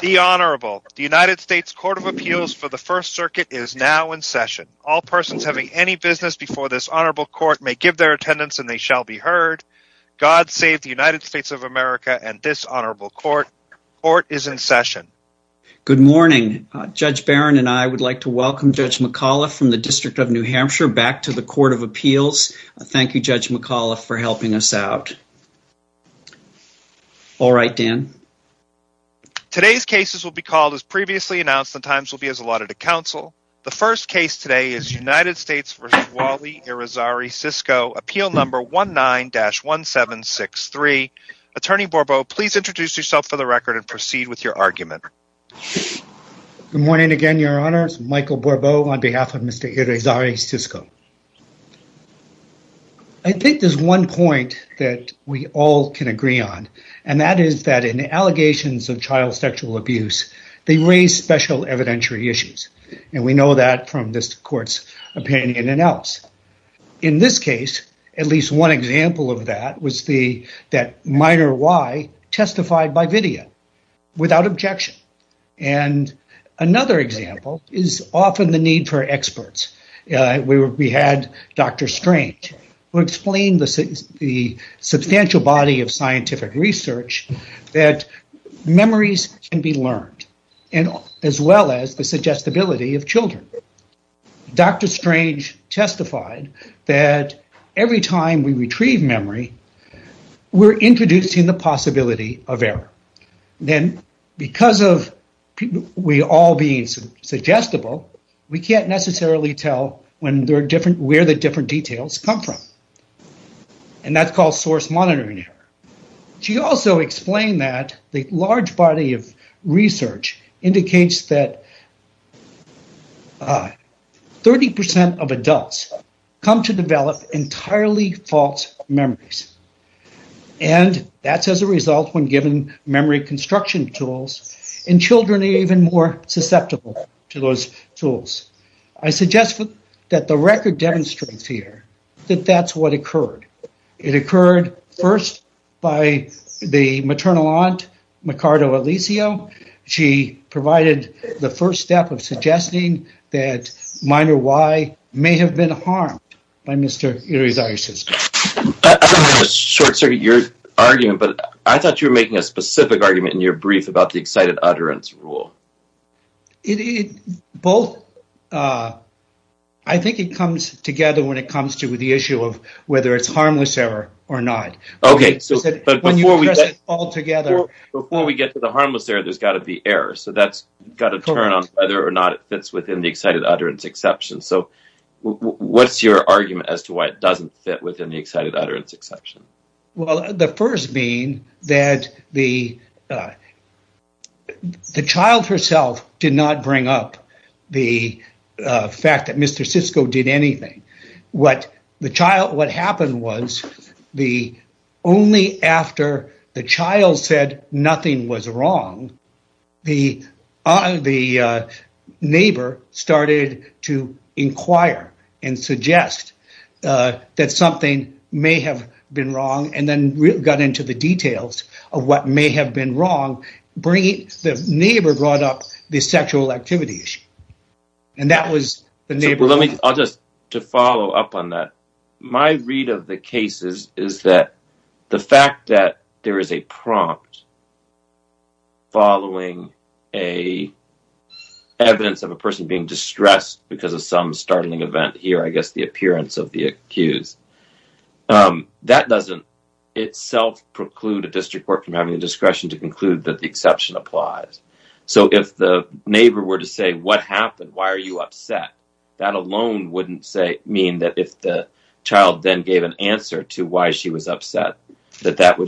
The Honorable, the United States Court of Appeals for the First Circuit is now in session. All persons having any business before this Honorable Court may give their attendance and they shall be heard. God save the United States of America and this Honorable Court. Court is in session. Good morning. Judge Barron and I would like to welcome Judge McAuliffe from the District of New Hampshire back to the Court of Appeals. Thank you, Judge McAuliffe for helping us out. All right, Dan. Today's cases will be called as previously announced and times will be as allotted to counsel. The first case today is United States v. Wally Irizarry-Sisco, appeal number 19-1763. Attorney Borbeau, please introduce yourself for the record and proceed with your argument. Good morning again, Your Honors. Michael Borbeau on behalf of Mr. Irizarry-Sisco. I think there's one point that we all can agree on and that is that in allegations of child sexual abuse, they raise special evidentiary issues and we know that from this court's opinion and else. In this case, at least one example of that was that minor Y testified by Vidya without objection. Another example is often the need for experts. We had Dr. Strange who explained the substantial body of scientific research that memories can be learned as well as the suggestibility of children. Dr. Strange testified that every time we retrieve memory, we're introducing the possibility of error. Then because of we all being suggestible, we can't necessarily tell where the different details come from. And that's called source monitoring error. She also explained that the large body of research indicates that 30% of adults come to develop entirely false memories. And that's as a result when given memory construction tools and children are even more susceptible to those tools. I suggest that the record demonstrates here that that's what occurred. It occurred first by the maternal aunt, Micardo Alizio. She provided the first step of suggesting that minor Y may have been harmed by Mr. Irizarry-Sisco. I'm going to short circuit your argument, but I thought you were making a specific argument in your brief about the excited utterance rule. I think it comes together when it comes to the issue of whether it's harmless error or not. Before we get to the harmless error, there's got to be error. So that's got to turn on whether or not it fits within the excited utterance exception. So what's your argument as to why it doesn't fit within the excited utterance exception? Well, the first being that the child herself did not bring up the fact that Mr. Sisco did anything. What happened was only after the child said nothing was wrong, the neighbor started to inquire and suggest that something may have been wrong and then got into the details of what may have been wrong. The neighbor brought up the sexual activity issue. I'll just follow up on that. My read of the cases is that the fact that there is a prompt following evidence of a person being distressed because of some startling event, here I guess the appearance of the accused, that doesn't itself preclude a district court from having the discretion to conclude that the exception applies. So if the neighbor were to say, what happened? Why are you upset? That alone wouldn't mean that if the child then gave an answer to why she was upset, that that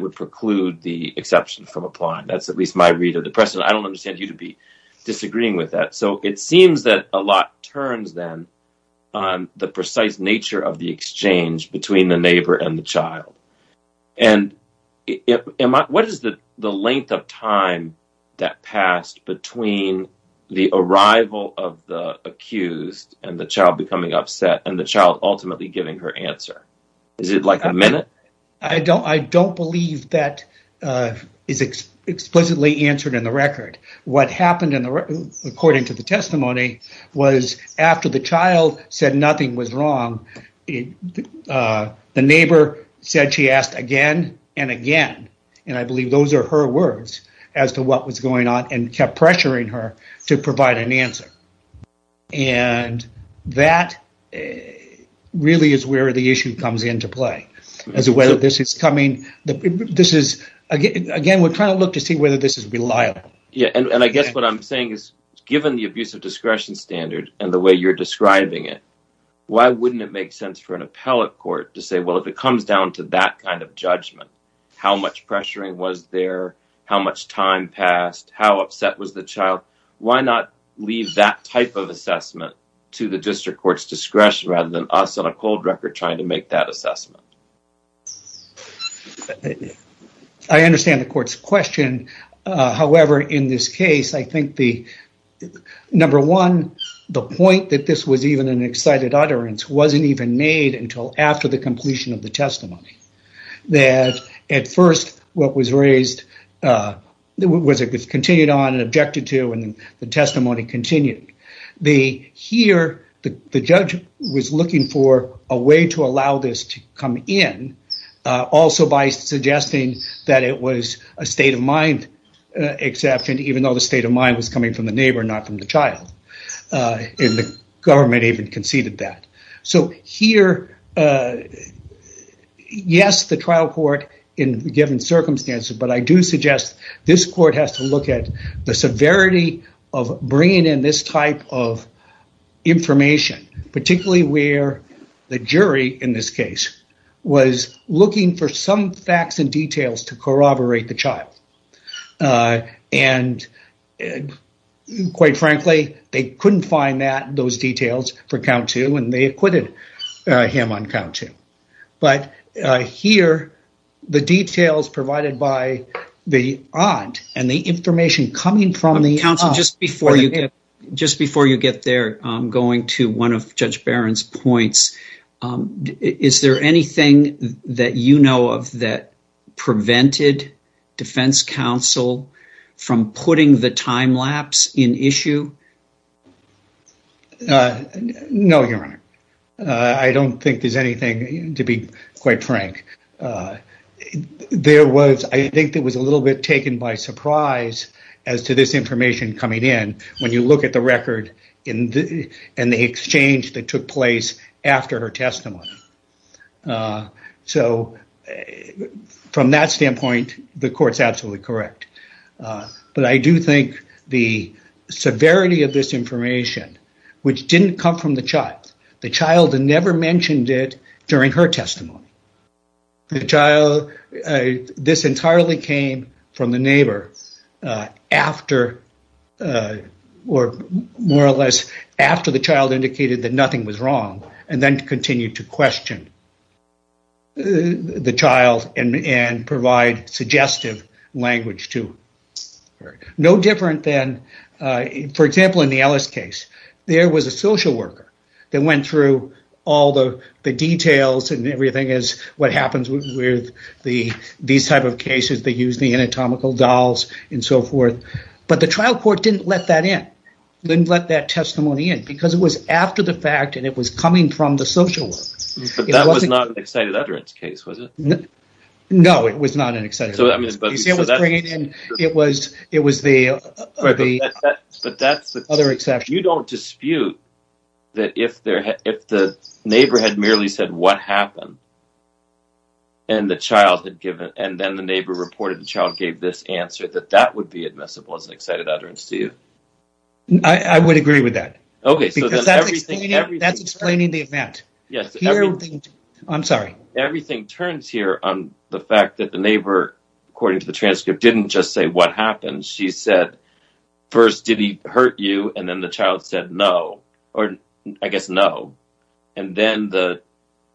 would preclude the exception from applying. That's at least my read of the precedent. I don't understand you to be disagreeing with that. So it seems that a lot turns then on the precise nature of the exchange between the neighbor and the child. What is the length of time that passed between the arrival of the accused and the child becoming upset and the child ultimately giving her answer? Is it like a minute? I don't believe that is explicitly answered in the record. What happened according to the testimony was after the child said nothing was wrong, the neighbor said she asked again and again. And I believe those are her words as to what was going on and kept pressuring her to provide an answer. And that really is where the issue comes into play. As to whether this is coming, again we're trying to look to see whether this is reliable. And I guess what I'm saying is given the abuse of discretion standard and the way you're describing it, why wouldn't it make sense for an appellate court to say well if it comes down to that kind of judgment, how much pressuring was there, how much time passed, how upset was the child, why not leave that type of assessment to the district court's discretion rather than us on a cold record trying to make that assessment? I understand the court's question. However, in this case, I think number one, the point that this was even an excited utterance wasn't even made until after the completion of the testimony. That at first what was raised was continued on and objected to and the testimony continued. Here the judge was looking for a way to allow this to come in also by suggesting that it was a state of mind exception, even though the state of mind was coming from the neighbor, not from the child. And the government even conceded that. So here, yes, the trial court in given circumstances, but I do suggest this court has to look at the severity of bringing in this type of information, particularly where the jury in this case was looking for some facts and details to corroborate the child. And quite frankly, they couldn't find those details for count two and they acquitted him on count two. But here, the details provided by the aunt and the information coming from the aunt Just before you get there, I'm going to one of Judge Barron's points. Is there anything that you know of that prevented defense counsel from putting the time lapse in issue? No, your honor. I don't think there's anything to be quite frank. I think it was a little bit taken by surprise as to this information coming in when you look at the record and the exchange that took place after her testimony. So from that standpoint, the court's absolutely correct. But I do think the severity of this information, which didn't come from the child. The child never mentioned it during her testimony. The child, this entirely came from the neighbor after, or more or less after the child indicated that nothing was wrong and then continued to question the child and provide suggestive language to her. No different than, for example, in the Ellis case. There was a social worker that went through all the details and everything as what happens with these type of cases that use the anatomical dolls and so forth. But the trial court didn't let that in, didn't let that testimony in because it was after the fact and it was coming from the social worker. But that was not an excited utterance case, was it? No, it was not an excited utterance case. It was the other exception. So you don't dispute that if the neighbor had merely said what happened and then the neighbor reported the child gave this answer, that that would be admissible as an excited utterance to you? I would agree with that. Because that's explaining the event. Everything turns here on the fact that the neighbor, according to the transcript, didn't just say what happened. She said, first, did he hurt you? And then the child said no, or I guess no. And then the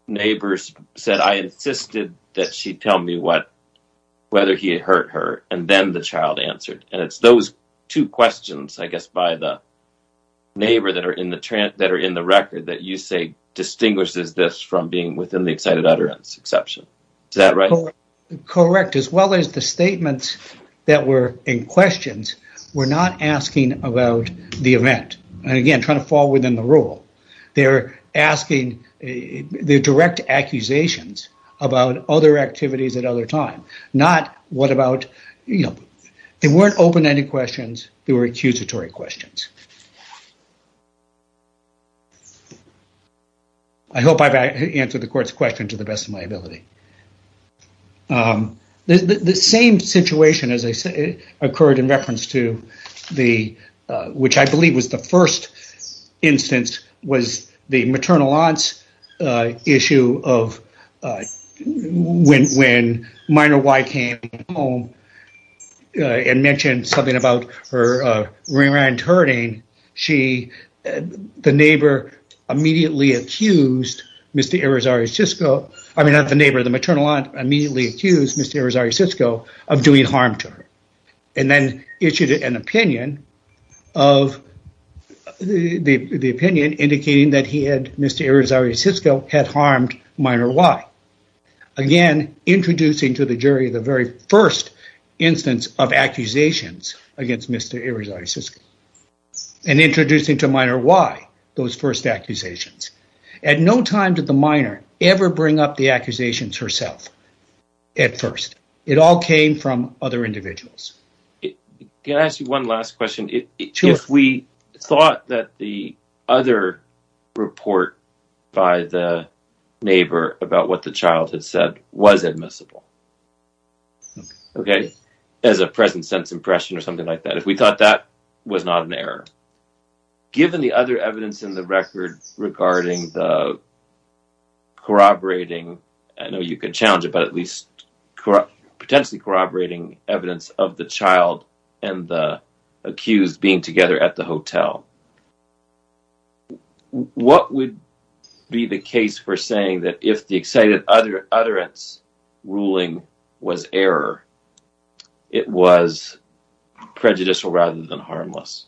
neighbor said, I insisted that she tell me whether he had hurt her. And then the child answered. And it's those two questions, I guess, by the neighbor that are in the record that you say distinguishes this from being within the excited utterance exception. Is that right? Correct. As well as the statements that were in questions were not asking about the event. And again, trying to fall within the rule. They're asking direct accusations about other activities at other times. Not what about, you know, they weren't open-ended questions, they were accusatory questions. I hope I've answered the court's question to the best of my ability. The same situation occurred in reference to the, which I believe was the first instance, was the maternal aunt's issue of when minor Y came home and mentioned something about her ring-around-turning she, the neighbor immediately accused Mr. Irizarry Sisco, I mean not the neighbor, the maternal aunt, immediately accused Mr. Irizarry Sisco of doing harm to her. And then issued an opinion of, the opinion indicating that he had, Mr. Irizarry Sisco, had harmed minor Y. Again, introducing to the jury the very first instance of accusations against Mr. Irizarry Sisco. And introducing to minor Y those first accusations. At no time did the minor ever bring up the accusations herself. At first. It all came from other individuals. Can I ask you one last question? Sure. If we thought that the other report by the neighbor about what the child had said was admissible, okay, as a present sense impression or something like that, if we thought that was not an error, given the other evidence in the record regarding the corroborating, I know you could challenge it, but at least potentially corroborating evidence of the child and the accused being together at the hotel, what would be the case for saying that if the excited utterance ruling was error, it was prejudicial rather than harmless?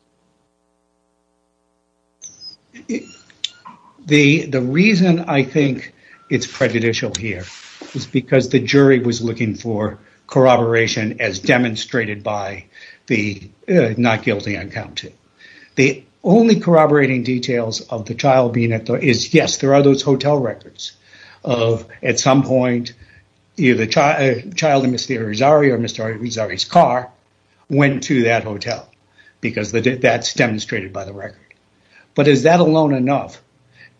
The reason I think it's prejudicial here is because the jury was looking for corroboration as demonstrated by the not guilty on counting. The only corroborating details of the child being at the hotel Yes, there are those hotel records of at some point the child and Mr. Irizarry or Mr. Irizarry's car went to that hotel because that's demonstrated by the record. But is that alone enough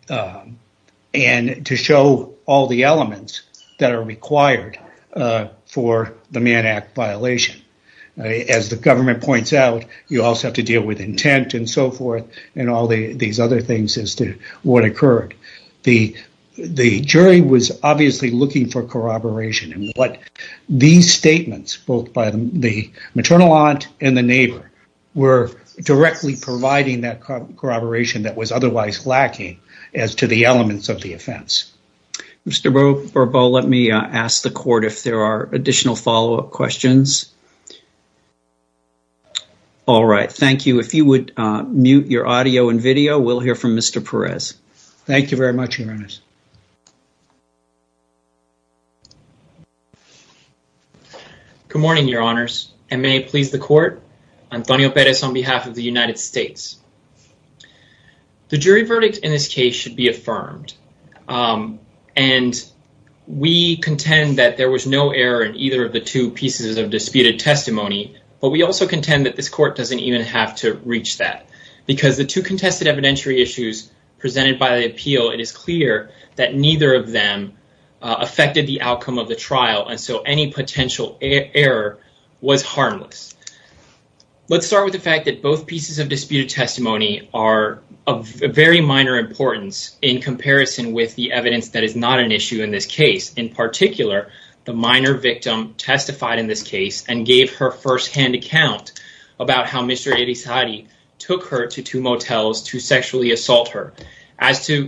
to show all the elements that are required for the Mann Act violation? As the government points out, you also have to deal with intent and so forth and all these other things as to what occurred. The jury was obviously looking for corroboration and what these statements, both by the maternal aunt and the neighbor were directly providing that corroboration that was otherwise lacking as to the elements of the offense. Mr. Bourbeau, let me ask the court if there are additional follow-up questions. All right, thank you. If you would mute your audio and video, we'll hear from Mr. Perez. Thank you very much, Your Honors. Good morning, Your Honors. May it please the court, Antonio Perez on behalf of the United States. The jury verdict in this case should be affirmed. We contend that there was no error in either of the two pieces of disputed testimony, but we also contend that this court doesn't even have to reach that because the two contested evidentiary issues presented by the appeal, it is clear that neither of them affected the outcome of the trial and so any potential error was harmless. Let's start with the fact that both pieces of disputed testimony are of very minor importance in comparison with the evidence that is not an issue in this case. In particular, the minor victim testified in this case and gave her first-hand account about how Mr. Eritizade took her to two motels to sexually assault her.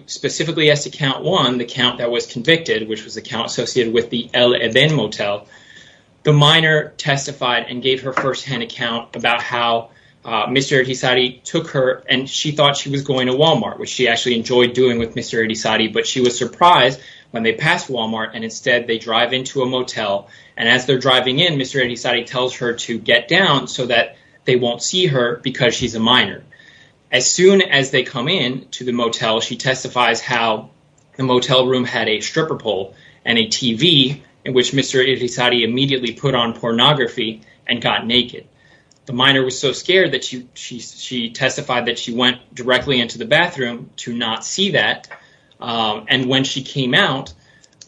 Specifically as to count one, the count that was convicted, which was the count associated with the El Edén motel, the minor testified and gave her first-hand account about how Mr. Eritizade took her and she thought she was going to Walmart, which she actually enjoyed doing with Mr. Eritizade, but she was surprised when they passed Walmart and instead they drive into a motel and as they're driving in, Mr. Eritizade tells her to get down so that they won't see her because she's a minor. As soon as they come in to the motel, she testifies how the motel room had a stripper pole and a TV in which Mr. Eritizade immediately put on pornography and got naked. The minor was so scared that she testified that she went directly into the bathroom to not see that and when she came out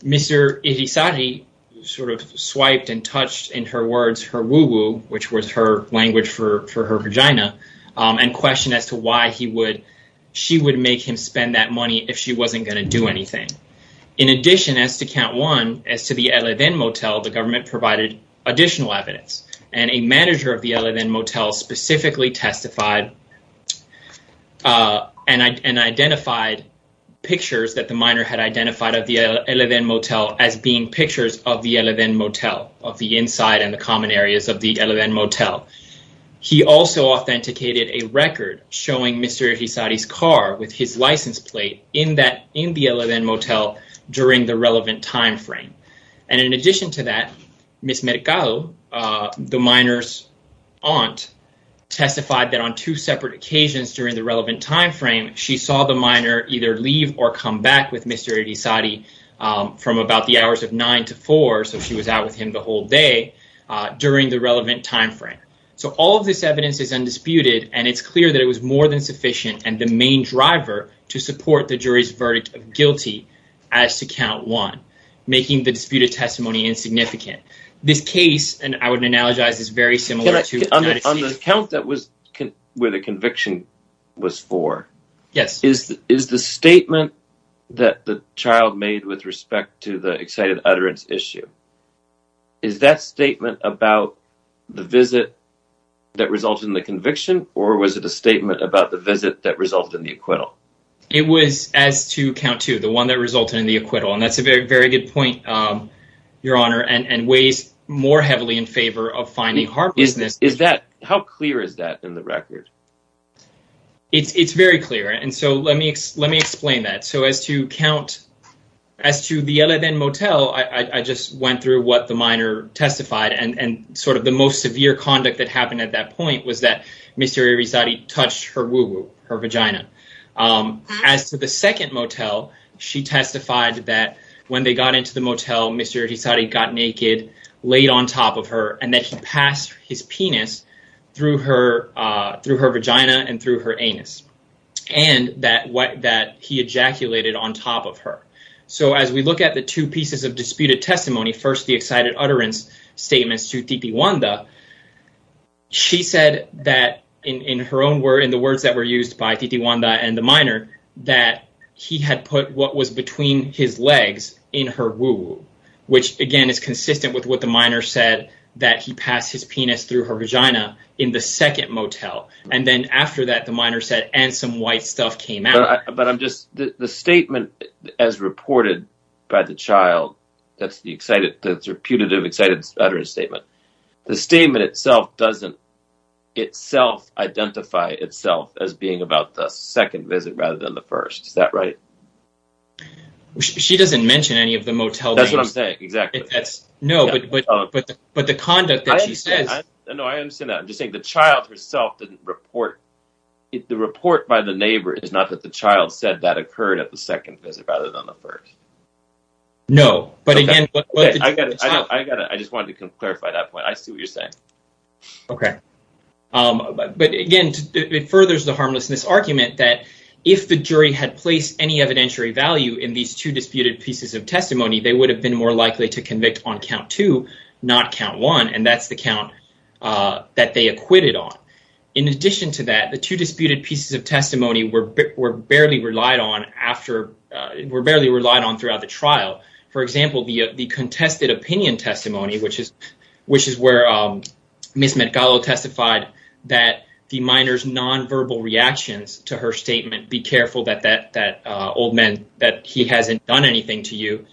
Mr. Eritizade sort of swiped and touched in her words her woo-woo, which was her language for her vagina and questioned as to why she would make him spend that money if she wasn't going to do anything. In addition, as to count one, as to the El Edén motel, the government provided additional evidence and a manager of the El Edén motel specifically testified and identified pictures that the minor had identified of the El Edén motel as being pictures of the El Edén motel, of the inside and the common areas of the El Edén motel. He also authenticated a record showing Mr. Eritizade's car with his license plate in the El Edén motel during the relevant time frame. And in addition to that Ms. Mercado, the minor's aunt testified that on two separate occasions during the relevant time frame she saw the minor either leave or come back with Mr. Eritizade from about the hours of nine to four, so she was out with him the whole day during the relevant time frame. So all of this evidence is undisputed and it's clear that it was more than sufficient and the main driver to support the jury's verdict of guilty as to count one making the disputed testimony insignificant. This case, and I would analogize, is very similar to... On the count where the conviction was for, is the statement that the child made with respect to the excited utterance issue, is that statement about the visit that resulted in the conviction, or was it a statement about the visit that resulted in the acquittal? It was as to count two, the one that resulted in the acquittal, and that's a very good point, Your Honor, and weighs more heavily in favor of finding harmlessness. How clear is that in the record? It's very clear, and so let me explain that. So as to count, as to the Yeleden Motel, I just went through what the minor testified and sort of the most severe conduct that happened at that point was that Mr. Eritizade touched her woo-woo, her vagina. As to the second motel, she testified that when they got into the motel, Mr. Eritizade laid on top of her, and that he passed his penis through her vagina and through her anus, and that he ejaculated on top of her. So as we look at the two pieces of disputed testimony, first the excited utterance statements to Titi Wanda, she said that in her own words, in the words that were used by Titi Wanda and the minor, that he had put what was between his legs in her woo-woo, which again is consistent with what the minor said that he passed his penis through her vagina in the second motel. And then after that, the minor said, and some white stuff came out. But I'm just, the statement as reported by the child that's the excited, that's her putative excited utterance statement, the statement itself doesn't itself identify itself as being about the second visit rather than the first. Is that right? She doesn't mention any of the motel names. That's what I'm saying, exactly. No, I understand that. I'm just saying the child herself didn't report, the report by the neighbor is not that the child said that occurred at the second visit rather than the first. I just wanted to clarify that point. I see what you're saying. Okay. But again, it furthers the harmlessness argument that if the jury had placed any evidentiary value in these two disputed pieces of testimony, they would have been more likely to convict on count two, not count one. And that's the count that they acquitted on. In addition to that, the two disputed pieces of testimony were barely relied on after, were barely relied on throughout the trial. For example, the contested opinion testimony, which is where Ms. Mercado testified that the minor's nonverbal reactions to her statement, be careful that that old man that he hasn't done anything to you,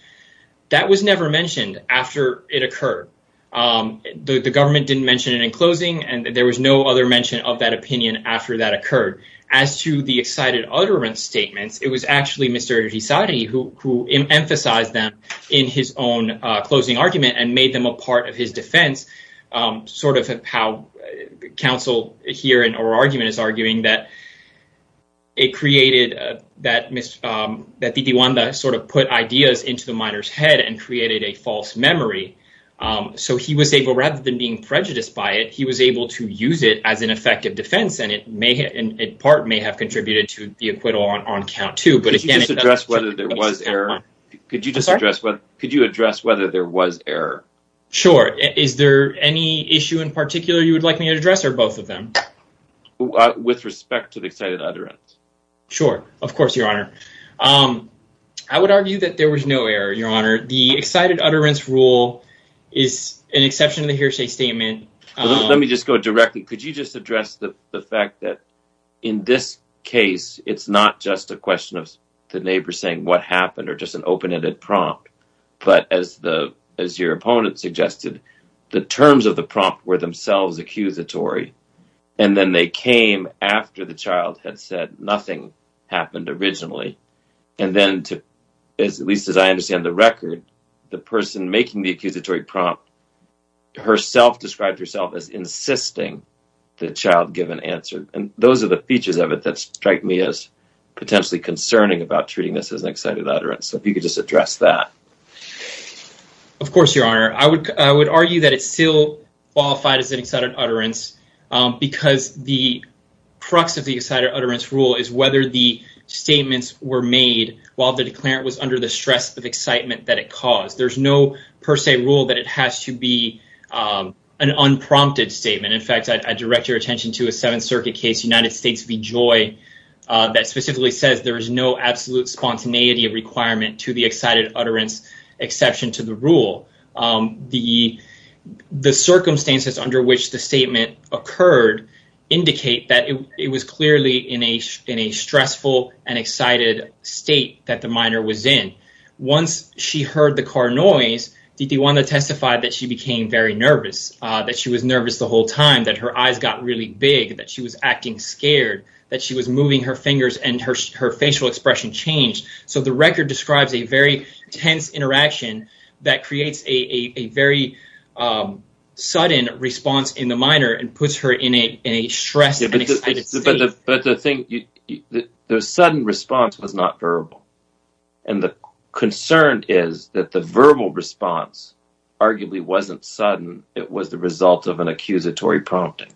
that was never mentioned after it occurred. The government didn't mention it in closing and there was no other mention of that opinion after that occurred. As to the excited utterance statements, it was actually Mr. Gisardi who emphasized them in his own closing argument and made them a part of his defense, sort of how counsel here in our argument is arguing that it created, that Titi Wanda sort of put ideas into the minor's head and created a false memory. So he was able, rather than being prejudiced by it, he was able to use it as an effective defense and it may, in part, may have contributed to the acquittal on count two. Could you just address whether there was error? Could you address whether there was error? Sure. Is there any issue in particular you would like me to address or both of them? With respect to the excited utterance. Sure. Of course, Your Honor. I would argue that there was no error, Your Honor. The excited utterance rule is an exception to the hearsay statement. Let me just go directly. Could you just address the fact that in this case, it's not just a question of the neighbor saying what happened or just an open-ended prompt, but as your proponent suggested, the terms of the prompt were themselves accusatory and then they came after the child had said nothing happened originally. And then, at least as I understand the record, the person making the accusatory prompt herself described herself as insisting the child give an answer. And those are the features of it that strike me as potentially concerning about treating this as an excited utterance. So if you could just address that. Of course, Your Honor. I would argue that it's still qualified as an excited utterance because the crux of the excited utterance rule is whether the statements were made while the declarant was under the stress of excitement that it caused. There's no per se rule that it has to be an unprompted statement. In fact, I direct your attention to a Seventh Circuit case, United States v. Joy, that specifically says there is no absolute spontaneity requirement to the excited utterance exception to the rule. The circumstances under which the statement occurred indicate that it was clearly in a stressful and excited state that the minor was in. Once she heard the car noise, Didiwanda testified that she became very nervous, that she was nervous the whole time, that her eyes got really big, that she was acting scared, that she was moving her fingers and her record describes a very tense interaction that creates a very sudden response in the minor and puts her in a stressed and excited state. The sudden response was not verbal. The concern is that the verbal response arguably wasn't sudden. It was the result of an accusatory prompting.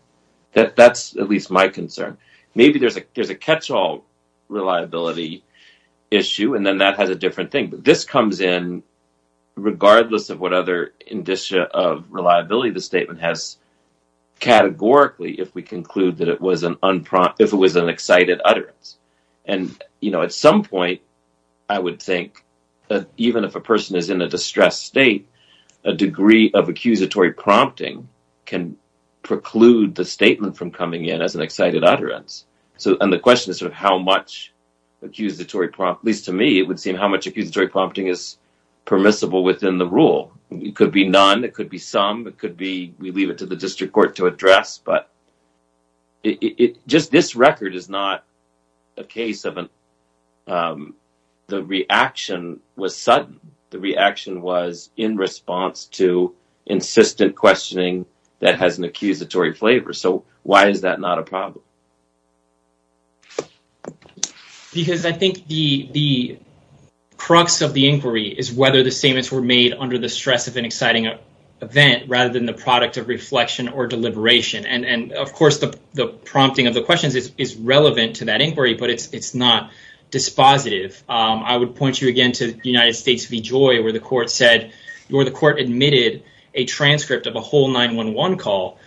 That's at least my concern. Maybe there's a catch-all reliability issue and then that has a different thing. This comes in regardless of what other indicia of reliability the statement has categorically if we conclude that it was an excited utterance. At some point, I would think that even if a person is in a distressed state, a degree of accusatory prompting can preclude the statement from coming in as an excited utterance. The question is how much accusatory prompting is permissible within the rule. It could be none. It could be some. We leave it to the district court to address. This record is not a case of the reaction was sudden. The reaction was in response to insistent questioning that has an accusatory flavor. Why is that not a problem? I think the crux of the inquiry is whether the statements were made under the stress of an exciting event rather than the product of reflection or deliberation. The prompting of the questions is relevant to that inquiry, but it's not dispositive. I would point you again to United States v. Joy where the court admitted a transcript of a whole 911 call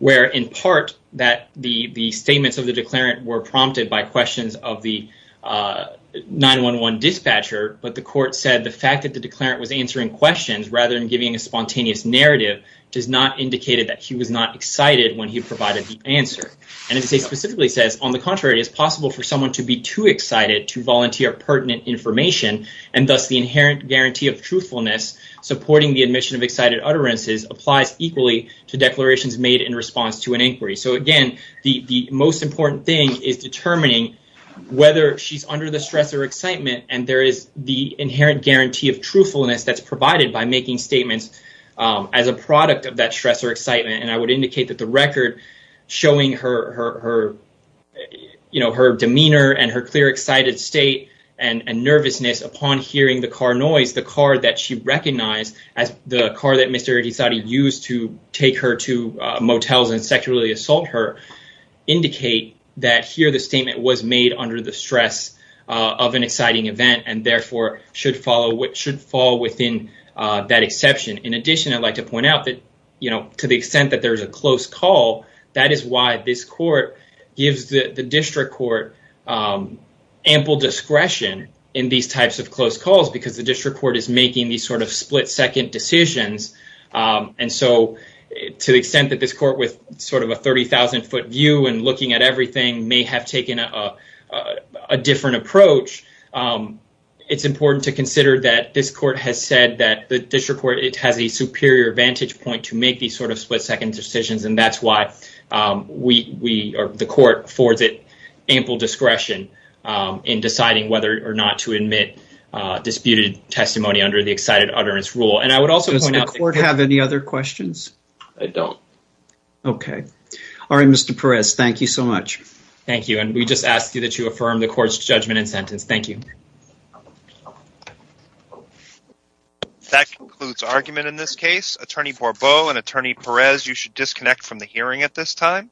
where, in part, the statements of the declarant were prompted by questions of the 911 dispatcher, but the court said the fact that the declarant was answering questions rather than giving a spontaneous narrative does not indicate that he was not excited when he provided the answer. It specifically says, on the contrary, it is possible for someone to be too excited to volunteer pertinent information, and thus the inherent guarantee of truthfulness supporting the admission of excited utterances applies equally to declarations made in response to an inquiry. The most important thing is determining whether she's under the stress or excitement, and there is the inherent guarantee of truthfulness that's provided by making statements as a product of that stress or excitement. I would indicate that the record showing her demeanor and her clear excited state and nervousness upon hearing the car noise, the car that she recognized as the car that Mr. Itisadi used to take her to motels and sexually assault her, indicate that here the statement was made under the stress of an exciting event, and therefore should fall within that exception. In addition, I'd like to point out that, to the extent that there is a close call, that is why this court gives the district court ample discretion in these types of close calls, because the district court is making these sort of split-second decisions, and so to the extent that this court, with sort of a 30,000-foot view and looking at everything, may have taken a different approach, it's important to consider that this court has said that the district court has a superior vantage point to make these sort of split-second decisions, and that's why the court affords it ample discretion in deciding whether or not to admit disputed testimony under the excited utterance rule. Does the court have any other questions? I don't. Alright, Mr. Perez, thank you so much. Thank you, and we just ask that you affirm the court's judgment and sentence. Thank you. That concludes argument in this case. Attorney Borbeau and Attorney Perez, you should disconnect from the hearing at this time.